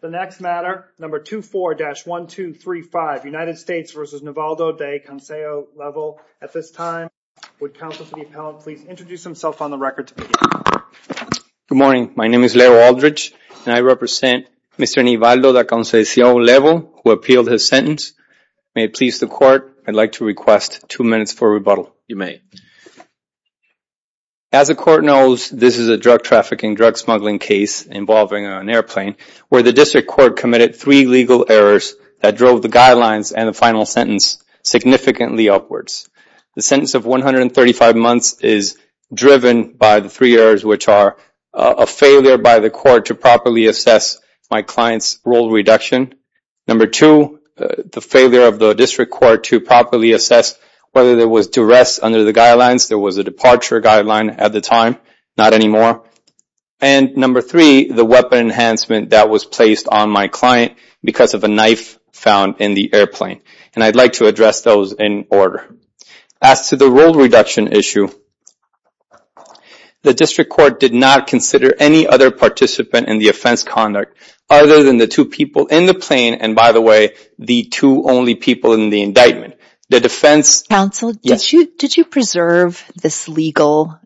The next matter, number 24-1235, United States v. Nivaldo da Conceicao-Level. At this time, would counsel for the appellant please introduce himself on the record. Good morning, my name is Leo Aldridge and I represent Mr. Nivaldo da Conceicao-Level, who appealed his sentence. May it please the court, I'd like to request two minutes for rebuttal. You may. As the court knows, this is a drug trafficking, drug smuggling case involving an airplane, where the district court committed three legal errors that drove the guidelines and the final sentence significantly upwards. The sentence of 135 months is driven by the three errors, which are a failure by the court to properly assess my client's role reduction. Number two, the failure of the district court to properly assess whether there was duress under the guidelines. There was a departure guideline at the time, not anymore. And number three, the weapon enhancement that was placed on my client because of a knife found in the airplane. And I'd like to address those in order. As to the role reduction issue, the district court did not consider any other participant in the offense conduct, other than the two people in the plane, and by the way, the two only people in the indictment. The defense counsel, did you preserve this legal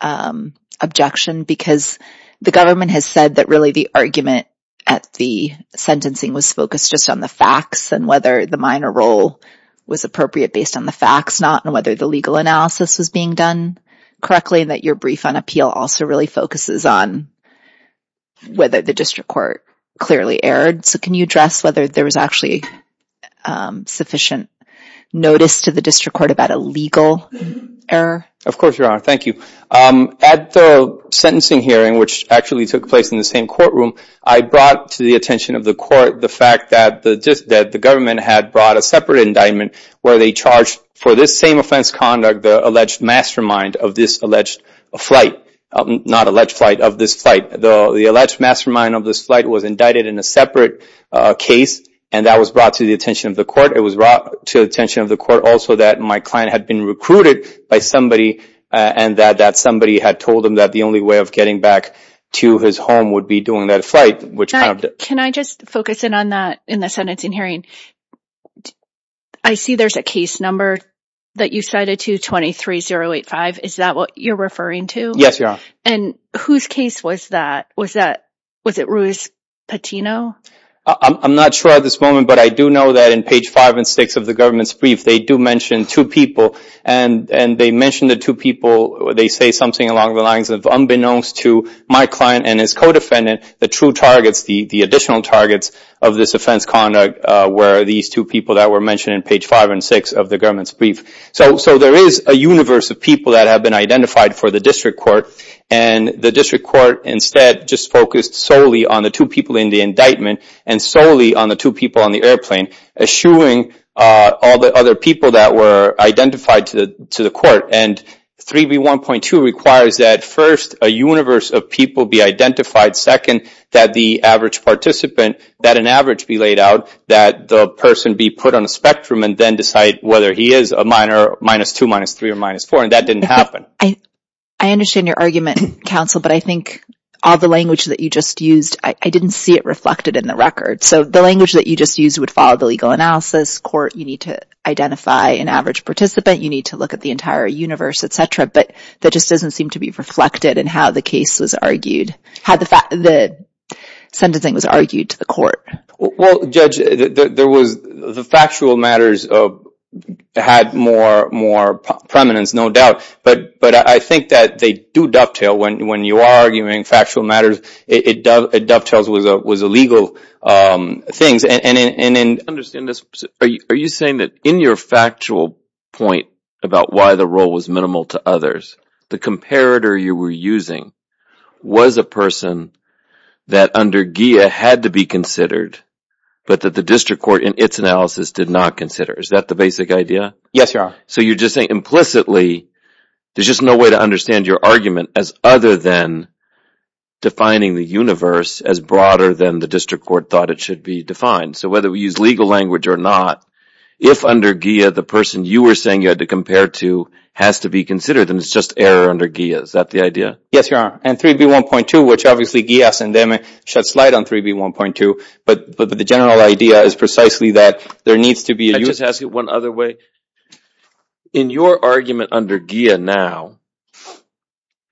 objection? Because the government has said that really the argument at the sentencing was focused just on the facts and whether the minor role was appropriate based on the facts not, and whether the legal analysis was being done correctly, and that your brief on appeal also really focuses on whether the district court clearly erred. So can you address whether there was actually sufficient notice to the district court about a legal error? Of course, Your Honor. Thank you. At the sentencing hearing, which actually took place in the same courtroom, I brought to the attention of the court the fact that the government had brought a separate indictment where they charged for this same offense conduct, the alleged mastermind of this alleged flight, not alleged flight, of this flight. The alleged mastermind of this flight was indicted in a separate case, and that was brought to the attention of the court. It was brought to attention of the court also that my client had been recruited by somebody, and that somebody had told him that the only way of getting back to his home would be doing that flight. Can I just focus in on that in the sentencing hearing? I see there's a case number that you cited to 23085. Is that what you're referring to? Yes, Your Honor. And whose case was that? Was it Ruiz-Patino? I'm not sure at this moment, but I do know that in page five and six of the government's brief, they do mention two people, and they mention the two people. They say something along the lines of, unbeknownst to my client and his co-defendant, the true targets, the additional targets of this offense conduct were these two people that were mentioned in page five and six of the government's brief. So there is a universe of people that have been identified for the district court, and the district court instead just focused solely on the two people in the indictment and solely on the two people on the airplane, eschewing all the other people that were identified to the court. And 3B1.2 requires that first, a universe of people be identified. Second, that the average participant, that an average be laid out, that the person be put on a spectrum and then decide whether he is a minor, minus two, minus three, or minus four. And that didn't happen. I understand your argument, counsel, but I think all the language that you just used, I didn't see it reflected in the record. So the language that you just used would analysis, court, you need to identify an average participant, you need to look at the entire universe, etc. But that just doesn't seem to be reflected in how the case was argued, how the sentencing was argued to the court. Well, Judge, there was the factual matters had more, more prominence, no doubt. But I think that they do dovetail when you are arguing factual matters, it dovetails with the legal things. And understand this, are you saying that in your factual point about why the role was minimal to others, the comparator you were using was a person that under GIA had to be considered, but that the district court in its analysis did not consider. Is that the basic idea? Yes, Your Honor. So you're just saying implicitly, there's just no way to understand your argument as other than defining the universe as broader than the district court thought it should be defined. So whether we use legal language or not, if under GIA, the person you were saying you had to compare to has to be considered, then it's just error under GIA. Is that the idea? Yes, Your Honor. And 3B1.2, which obviously GIA shuts light on 3B1.2. But the general idea is precisely that there needs to be... One other way. In your argument under GIA now,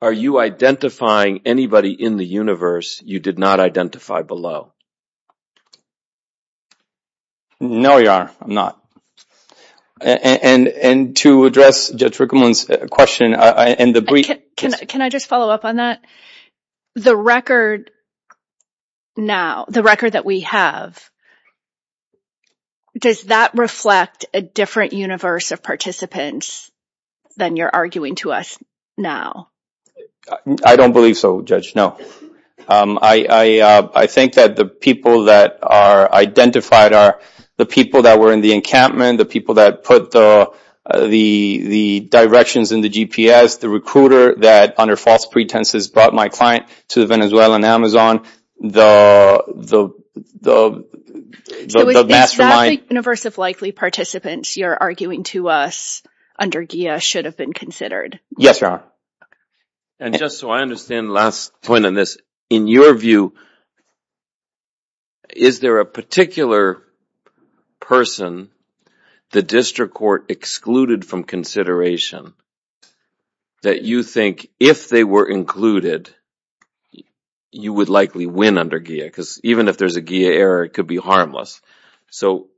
are you identifying anybody in the universe you did not identify below? No, Your Honor, I'm not. And to address Judge Rickman's question... Can I just follow up on that? The record now, the record that we have, does that reflect a different universe of participants than you're arguing to us now? I don't believe so, Judge. No. I think that the people that are identified are the people that were in the encampment, the people that put the directions in the GPS, the recruiter that, under false pretenses, brought my client to the Venezuelan Amazon, the mastermind... It was the exact universe of likely participants you're arguing to us under GIA should have been considered. Yes, Your Honor. And just so I understand the last point on this, in your view, is there a particular person the district court excluded from consideration that you think, if they were included, you would likely win under GIA? Because even if there's a GIA error, it could be harmless. So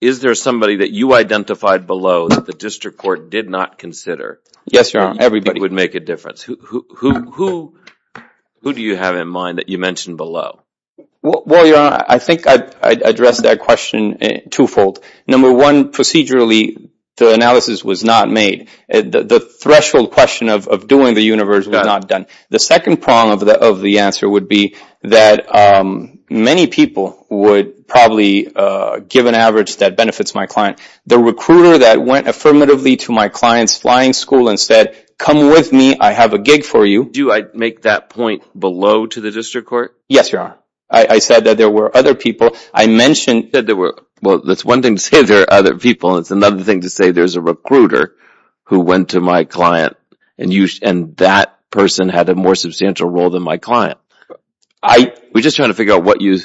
is there somebody that you identified below that the district court did not consider? Yes, Your Honor, everybody. Who would make a difference? Who do you have in mind that you mentioned below? Well, Your Honor, I think I addressed that question twofold. Number one, procedurally, the analysis was not made. The threshold question of doing the universe was not done. The second prong of the answer would be that many people would probably give an average that benefits my client. The recruiter that went affirmatively to my client's flying school and said, come with me, I have a gig for you... Do I make that point below to the district court? Yes, Your Honor. I said that there were other people. I mentioned that there were... Well, that's one thing to say there are other people. It's another thing to say there's a recruiter who went to my client and that person had a more substantial role than my client. We're just trying to figure out what you...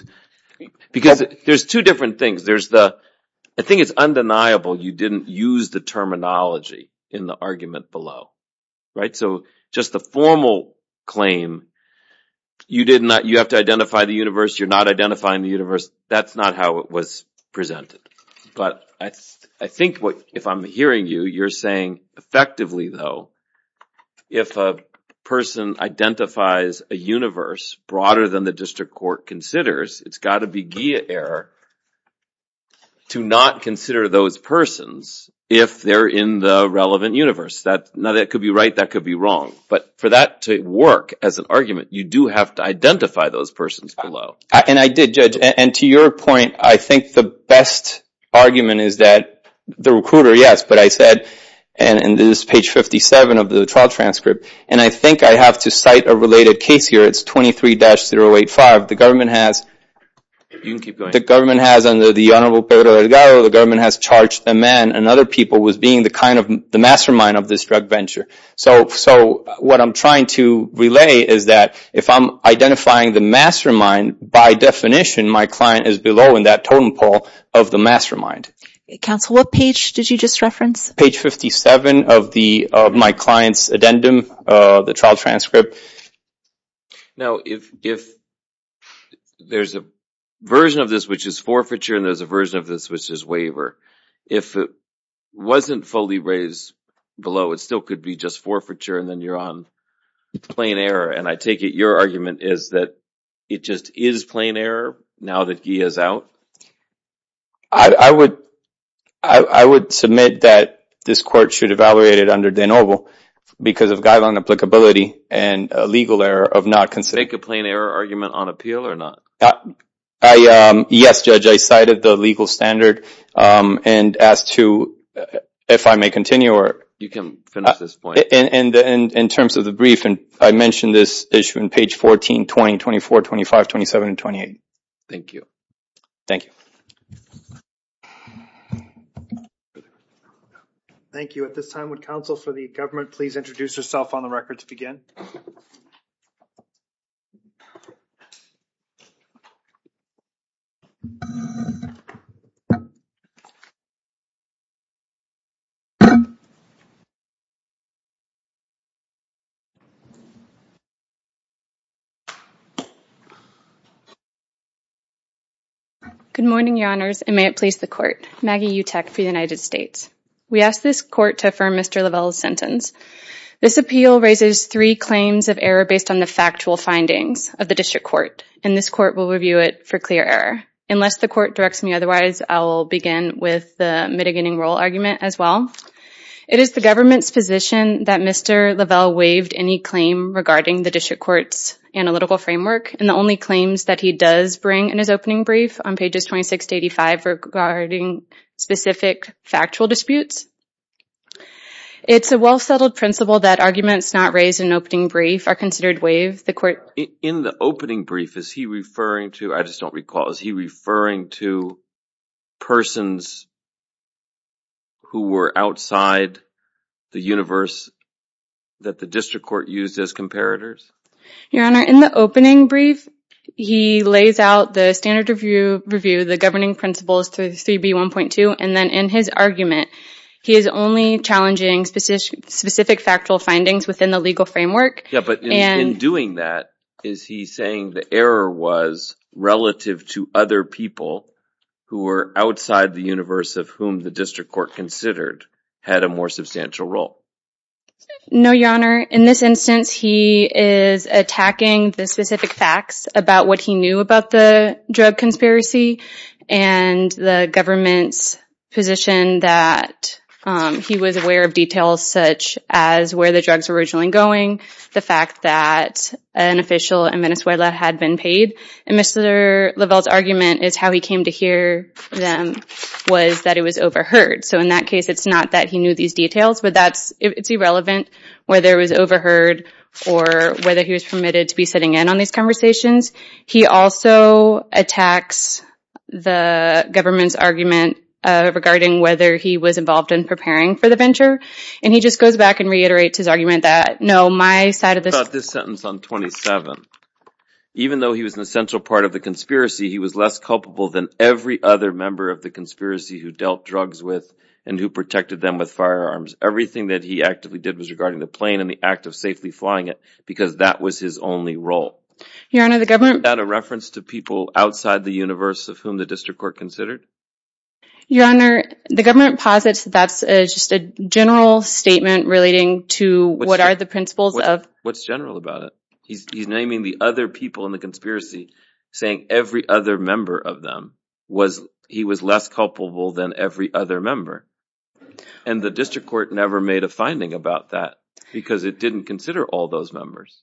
Because there's two different things. I think it's undeniable you didn't use the terminology in the argument below. So just the formal claim, you have to identify the universe, you're not identifying the universe, that's not how it was presented. But I think if I'm hearing you, you're saying effectively though, if a person identifies a universe broader than the district court considers, it's got to be wrong. But for that to work as an argument, you do have to identify those persons below. And I did, Judge. And to your point, I think the best argument is that the recruiter, yes, but I said, and this is page 57 of the trial transcript, and I think I have to cite a related case here. It's 23-085. The government has... You can keep going. The government has under the Honorable Pedro Delgado, the government has charged a man and people was being the mastermind of this drug venture. So what I'm trying to relay is that if I'm identifying the mastermind, by definition, my client is below in that totem pole of the mastermind. Counsel, what page did you just reference? Page 57 of my client's addendum, the trial transcript. Now, if there's a version of this, which is forfeiture, and there's a version of this, which is waiver, if it wasn't fully raised below, it still could be just forfeiture, and then you're on plain error. And I take it your argument is that it just is plain error now that Guy is out? I would submit that this court should evaluate it under de novo because of guideline applicability and a legal error of not considering... Make a plain error argument on appeal or not? I... Yes, Judge. I cited the legal standard and asked if I may continue or... You can finish this point. In terms of the brief, I mentioned this issue in page 14, 20, 24, 25, 27, and 28. Thank you. Thank you. Thank you. At this time, would counsel for the government please introduce herself on the record to begin? Good morning, your honors, and may it please the court. Maggie Utech for the United States. We ask this court to affirm Mr. Lavelle's sentence. This appeal raises three claims of error based on the factual findings of the district court, and this court will review it for clear error. Unless the court directs me otherwise, I'll begin with the mitigating role argument as well. It is the government's position that Mr. Lavelle waived any claim regarding the district court's analytical framework, and the only claims that he does bring in his opening brief on pages 26 to 85 regarding specific factual disputes. It's a well-settled principle that arguments not raised in opening brief are considered waived. The court... In the opening brief, is he referring to... I just don't recall. Is he referring to persons who were outside the universe that the district court used as comparators? Your honor, in the opening brief, he lays out the standard review, the governing principles to 3b 1.2, and then in his argument, he is only challenging specific factual findings within the legal framework. Yeah, but in doing that, is he saying the error was relative to other people who were outside the universe of whom the district court considered had a more substantial role? No, your honor. In this instance, he is attacking the specific facts about what he knew about the drug conspiracy and the government's position that he was aware of details such as where the drugs were originally going, the fact that an official in Venezuela had been paid, and Mr. Lavelle's argument is how he came to hear them was that it was overheard. So in that case, it's not that he knew these details, but it's irrelevant whether it was overheard or whether he was permitted to be sitting in on these conversations. He also attacks the government's argument regarding whether he was involved in preparing for the venture, and he just goes back and reiterates his argument that, no, my side of the... This sentence on 27, even though he was an essential part of the conspiracy, he was less culpable than every other member of the conspiracy who dealt drugs with and who protected them with firearms. Everything that he actively did was regarding the plane and the act of safely flying it because that was his only role. Your honor, the government... Is that a reference to people outside the universe of whom the district court considered? Your honor, the government posits that that's just a general statement relating to what are the principles of... What's general about it? He's naming the other people in the conspiracy, saying every other member of them was... He was less culpable than every other member, and the district court never made a finding about that because it didn't consider all those members.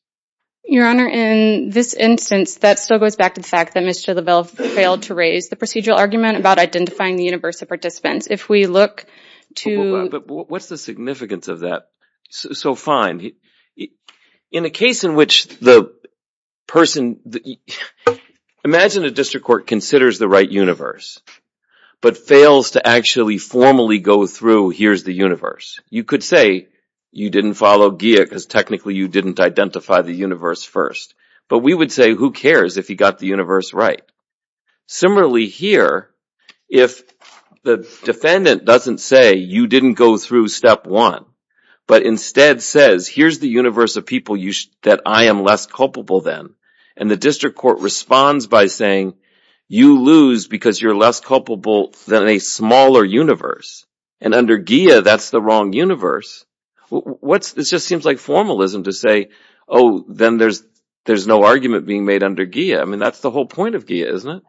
Your honor, in this instance, that still goes back to the fact that Mr. Lebel failed to raise the procedural argument about identifying the universe of participants. If we look to... What's the significance of that? So fine. In a case in which the person... Imagine a district court considers the right universe, but fails to actually formally go through here's the universe. You could say you didn't follow Gia because technically you didn't identify the universe first, but we would say who cares if he got the universe right? Similarly here, if the defendant doesn't say you didn't go through step one, but instead says here's the universe of people that I am less culpable than, and the district court responds by saying you lose because you're less culpable than a smaller universe, and under Gia, that's the wrong universe. This just seems like formalism to say, oh, then there's no argument being made under Gia. I mean, that's the whole point of Gia, isn't it?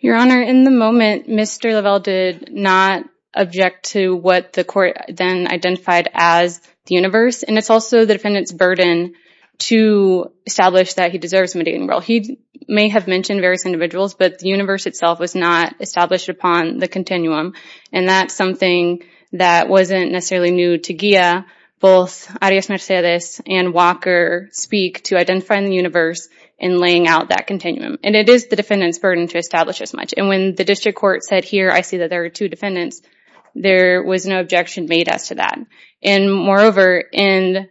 Your honor, in the moment, Mr. Lebel did not object to what the court then identified as the universe, and it's also the defendant's burden to establish that he deserves a mediation role. He may have mentioned various individuals, but the universe itself was not established upon the continuum, and that's something that wasn't necessarily new to Gia. Both Arias Mercedes and Walker speak to identifying the universe and laying out that continuum, and it is the defendant's burden to establish as much, and when the district court said here, I see that there are two defendants, there was no objection made as to that, and moreover, in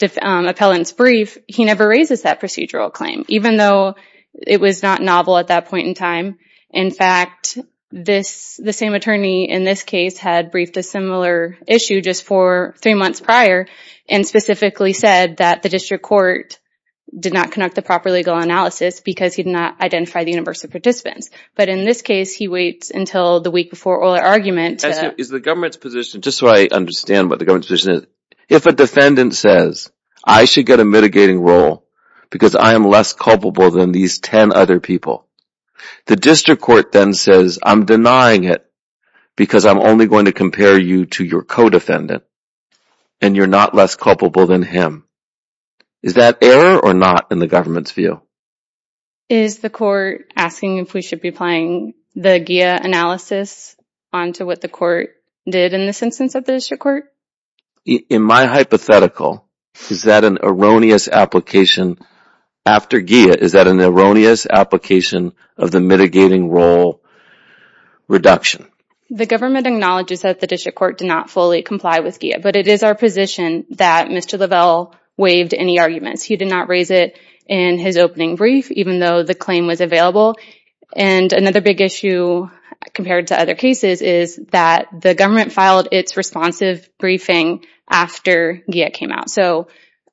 the appellant's brief, he never raises that procedural claim, even though it was not novel at that point in time. In fact, the same attorney in this case had briefed a similar issue just for three months prior and specifically said that the district court did not conduct the proper legal analysis because he did not identify the universe of participants, but in this case, he waits until the week before oral argument. Is the government's position, just so I understand what the government's position is, if a defendant says, I should get a mitigating role because I am less culpable than these 10 other people, the district court then says, I'm denying it because I'm only going to compare you to your co-defendant, and you're not less culpable than him. Is that error or not in the government's view? Is the court asking if we should be applying the GIA analysis onto what the court did in this instance of the district court? In my hypothetical, is that an erroneous application after GIA? Is that an erroneous application of the mitigating role reduction? The government acknowledges that the district court did not fully comply with GIA, but it is our position that Mr. Lavelle waived any arguments. He did not raise it in his opening brief, even though the claim was available. Another big issue compared to other cases is that the government filed its responsive briefing after GIA came out.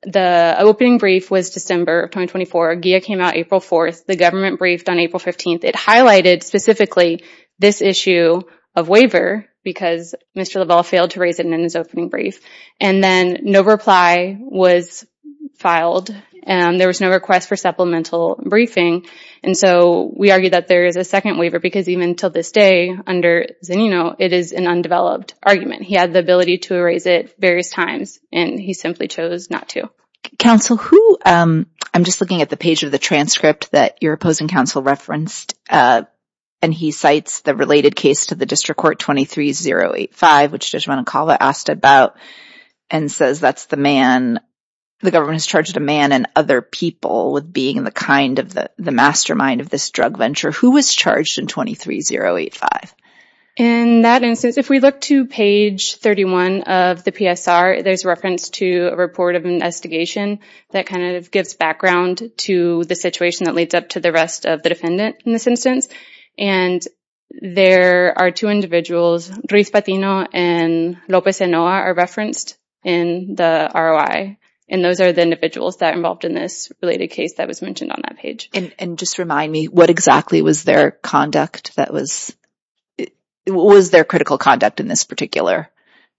The opening brief was December of 2024. GIA came out April 4th. The government briefed on April 15th. It highlighted specifically this issue of waiver because Mr. Lavelle failed to raise it in his opening brief. Then no reply was filed, and there was no request for supplemental briefing. We argue that there is a second waiver because even until this day, under Zanino, it is an undeveloped argument. He had the ability to raise it various times, and he simply chose not to. Counsel, I'm just looking at the page of the transcript that your opposing counsel referenced, and he cites the related case to the district court 23085, which Judge Manicola asked about and says that the government has charged a man and other people with being the mastermind of this drug venture. Who was charged in 23085? In that instance, if we look to page 31 of the PSR, there's reference to a report of investigation that gives background to the situation that of the defendant in this instance. There are two individuals, Ruiz Patino and Lopez Enoa, are referenced in the ROI. Those are the individuals that are involved in this related case that was mentioned on that page. Just remind me, what exactly was their conduct in this particular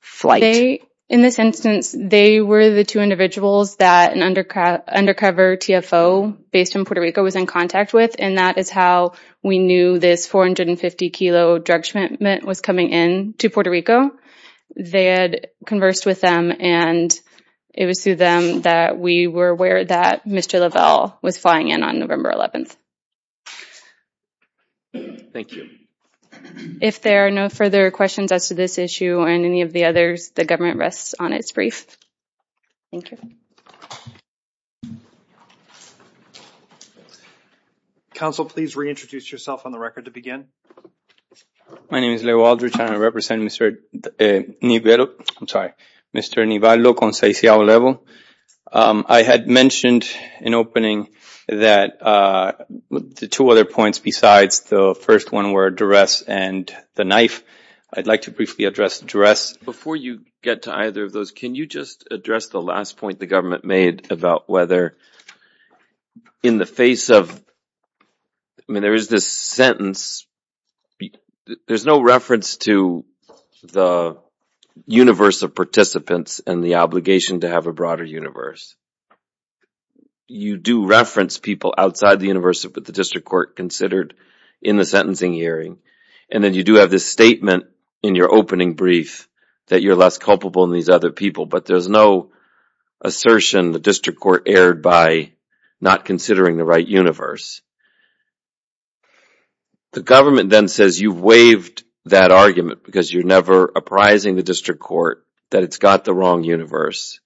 flight? In this instance, they were the two individuals that an undercover TFO based in Puerto Rico was in contact with, and that is how we knew this 450 kilo drug shipment was coming in to Puerto Rico. They had conversed with them, and it was through them that we were aware that Mr. Lovell was flying in on November 11th. Thank you. If there are no further questions as to this issue and any of the others, the government rests on its brief. Thank you. Counsel, please reintroduce yourself on the record to begin. My name is Leo Aldrich, and I represent Mr. Nivello. I'm sorry, Mr. Nivello. I had mentioned in opening that the two other points besides the first one were duress and the knife. I'd like to briefly address duress. Before you get to either of those, can you just address the last point the government made about whether in the face of, I mean, there is this sentence. There's no reference to the universe of participants and the obligation to have a broader universe. You do reference people outside the universe of what the district court considered in the opening brief that you're less culpable than these other people, but there's no assertion the district court erred by not considering the right universe. The government then says you've waived that argument because you're never apprising the district court that it's got the wrong universe.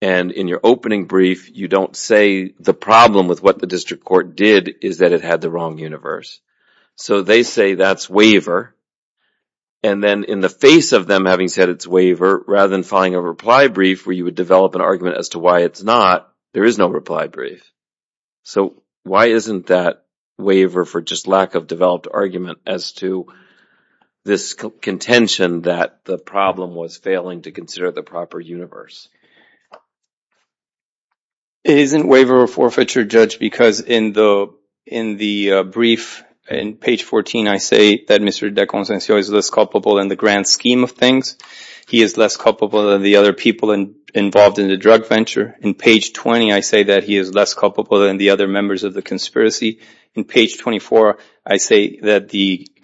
And in your opening brief, you don't say the problem with what the district court did is that it had the wrong universe. So they say that's waiver. And then in the face of them having said it's waiver, rather than filing a reply brief where you would develop an argument as to why it's not, there is no reply brief. So why isn't that waiver for just lack of developed argument as to this contention that the problem was failing to consider the proper universe? It isn't waiver or forfeiture, Judge, because in the brief, in page 14, I say that Mr. DeConsancio is less culpable in the grand scheme of things. He is less culpable than the other people involved in the drug venture. In page 20, I say that he is less culpable than the other members of the conspiracy. In page 24, I say that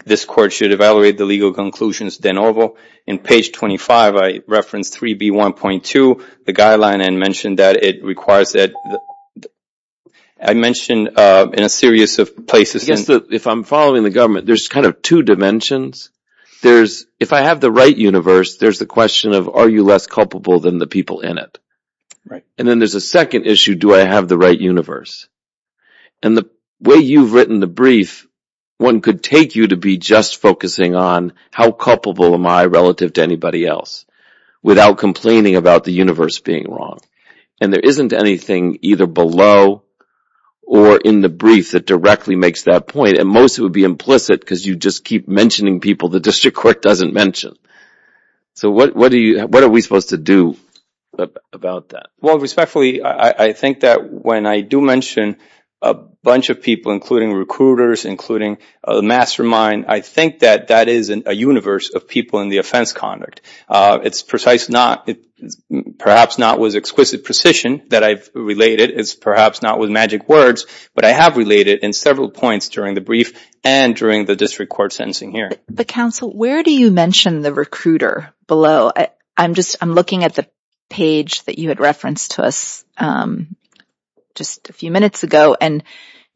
this court should evaluate the legal conclusions de novo. In page 25, I reference 3B1.2, the guideline and mention that it requires that I mentioned in a series of places. If I'm following the government, there's kind of two dimensions. There's if I have the right universe, there's the question of are you less culpable than the people in it? Right. And then there's a second issue. Do I have the right universe? And the way you've written the brief, one could take you to be just focusing on how culpable am I relative to anybody else without complaining about the universe being wrong. And there isn't anything either below or in the brief that directly makes that point. And most would be implicit because you just keep mentioning people the district court doesn't mention. So what are we supposed to do about that? Well, respectfully, I think that when I do mention a bunch of people, including recruiters, including a mastermind, I think that that is a universe of people in the offense conduct. It's precise not perhaps not was exquisite precision that I've related is perhaps not with magic words, but I have related in several points during the brief and during the district court sentencing here. But counsel, where do you mention the recruiter below? I'm just I'm looking at the page that you had referenced to us just a few minutes ago, and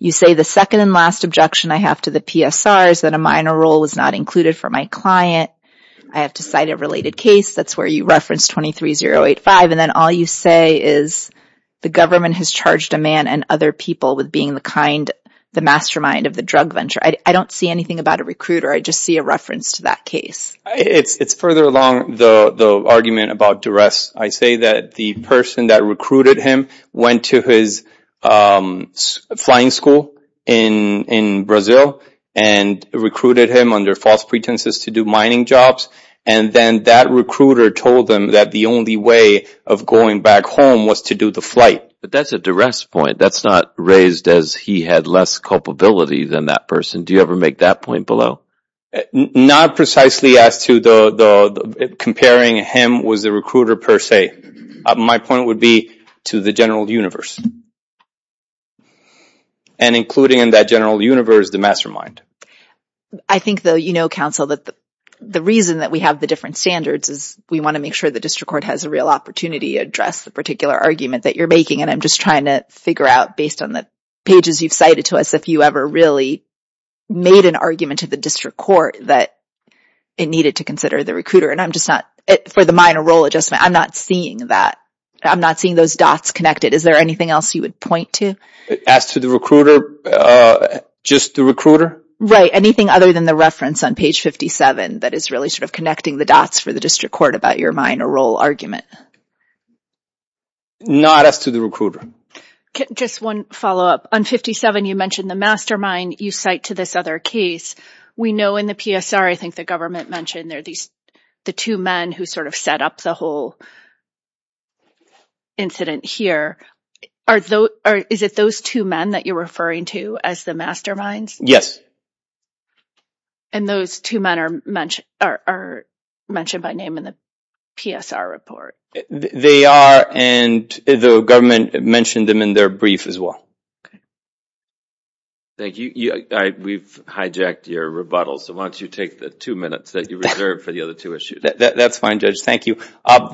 you say the second and last objection I have to the PSR is that a minor role was not included for my client. I have to cite a related case. That's where you referenced twenty three zero eight five. And then all you say is the government has charged a man and other people with being the kind the mastermind of the drug venture. I don't see anything about a recruiter. I just see a argument about duress. I say that the person that recruited him went to his flying school in in Brazil and recruited him under false pretenses to do mining jobs. And then that recruiter told them that the only way of going back home was to do the flight. But that's a duress point that's not raised as he had less culpability than that person. Do you ever make that point below? Not precisely as to the comparing him was the recruiter per se. My point would be to the general universe. And including in that general universe, the mastermind. I think, though, you know, counsel, that the reason that we have the different standards is we want to make sure the district court has a real opportunity to address the particular argument that you're making. And I'm just trying to figure out based on the pages you've cited to us if you ever really made an argument to the district court that it needed to consider the recruiter. And I'm just not for the minor role adjustment. I'm not seeing that. I'm not seeing those dots connected. Is there anything else you would point to? As to the recruiter, just the recruiter. Right. Anything other than the reference on page 57 that is really sort of connecting the dots for the district court about your minor role argument? Not as to the recruiter. Just one follow up on 57. You mentioned the mastermind you cite to this other case. We know in the PSR, I think the government mentioned there these the two men who sort of set up the whole incident here. Are those or is it those two men that you're referring to as the masterminds? Yes. And those two men are mentioned are mentioned by name in the PSR report. They are. And the government mentioned them in their brief as well. Thank you. We've hijacked your rebuttal. So why don't you take the two minutes that you reserved for the other two issues? That's fine, Judge. Thank you.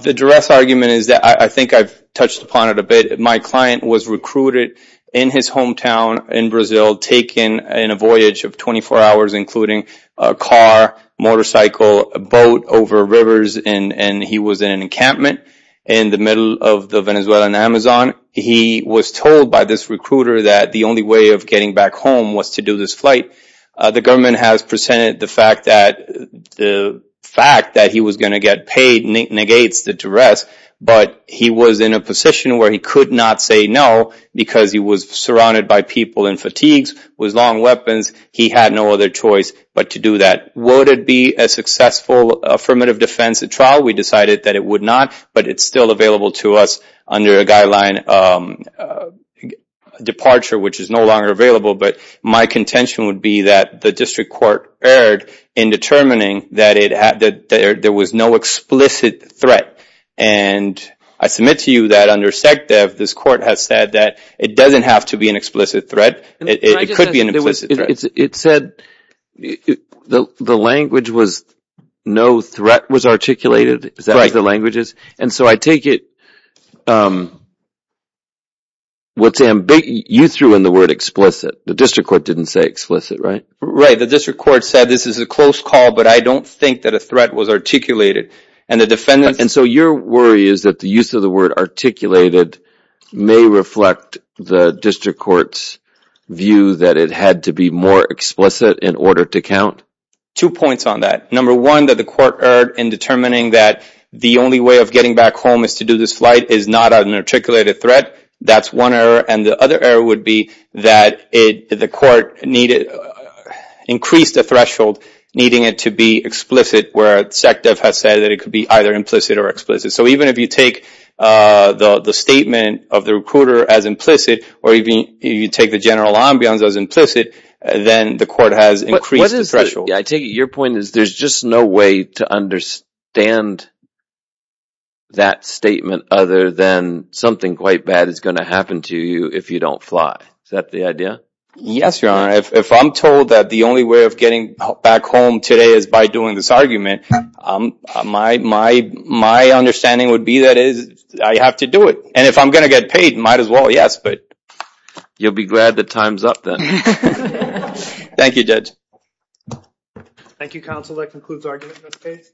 The duress argument is that I think I've touched upon it a bit. My client was recruited in his hometown in Brazil, taken in a voyage of 24 hours, including a car, motorcycle, a boat over rivers. And he was in an encampment in the middle of the Venezuelan Amazon. He was told by this recruiter that the only way of getting back home was to do this flight. The government has presented the fact that the fact that he was going to get paid negates the duress. But he was in a position where he could not say no because he was surrounded by people in fatigues with long weapons. He had no other choice but to do that. Would it be a successful affirmative defense at trial? We decided that it would not, but it's still available to us under a guideline departure, which is no longer available. But my contention would be that the district court erred in determining that there was no explicit threat. And I submit to you that under SECDEF, this court has said that it doesn't have to be an explicit threat. It could be an explicit threat. The language was no threat was articulated. Is that right? The language is. And so I take it, what Sam, you threw in the word explicit. The district court didn't say explicit, right? Right. The district court said this is a close call, but I don't think that a threat was articulated. And the defendants. And so your worry is that the use of the word articulated may reflect the district court's view that it had to be more explicit in order to count two points on that. Number one, that the court erred in determining that the only way of getting back home is to do this flight is not an articulated threat. That's one error. And the other error would be that the court needed increased the threshold, needing it to be explicit where SECDEF has said that it could be either implicit or explicit. So even if you take the statement of the recruiter as implicit or even you take the general ambience as implicit, then the court has increased the threshold. I take it your point is there's just no way to understand that statement other than something quite bad is going to happen to you if you don't fly. Is that the idea? Yes, your honor. If I'm told that the only way of getting back home today is by doing this argument, my understanding would be that I have to do it. And if I'm going to get paid, might as well, yes. But you'll be glad that time's up then. Thank you, Judge. Thank you, counsel. That concludes argument in this case.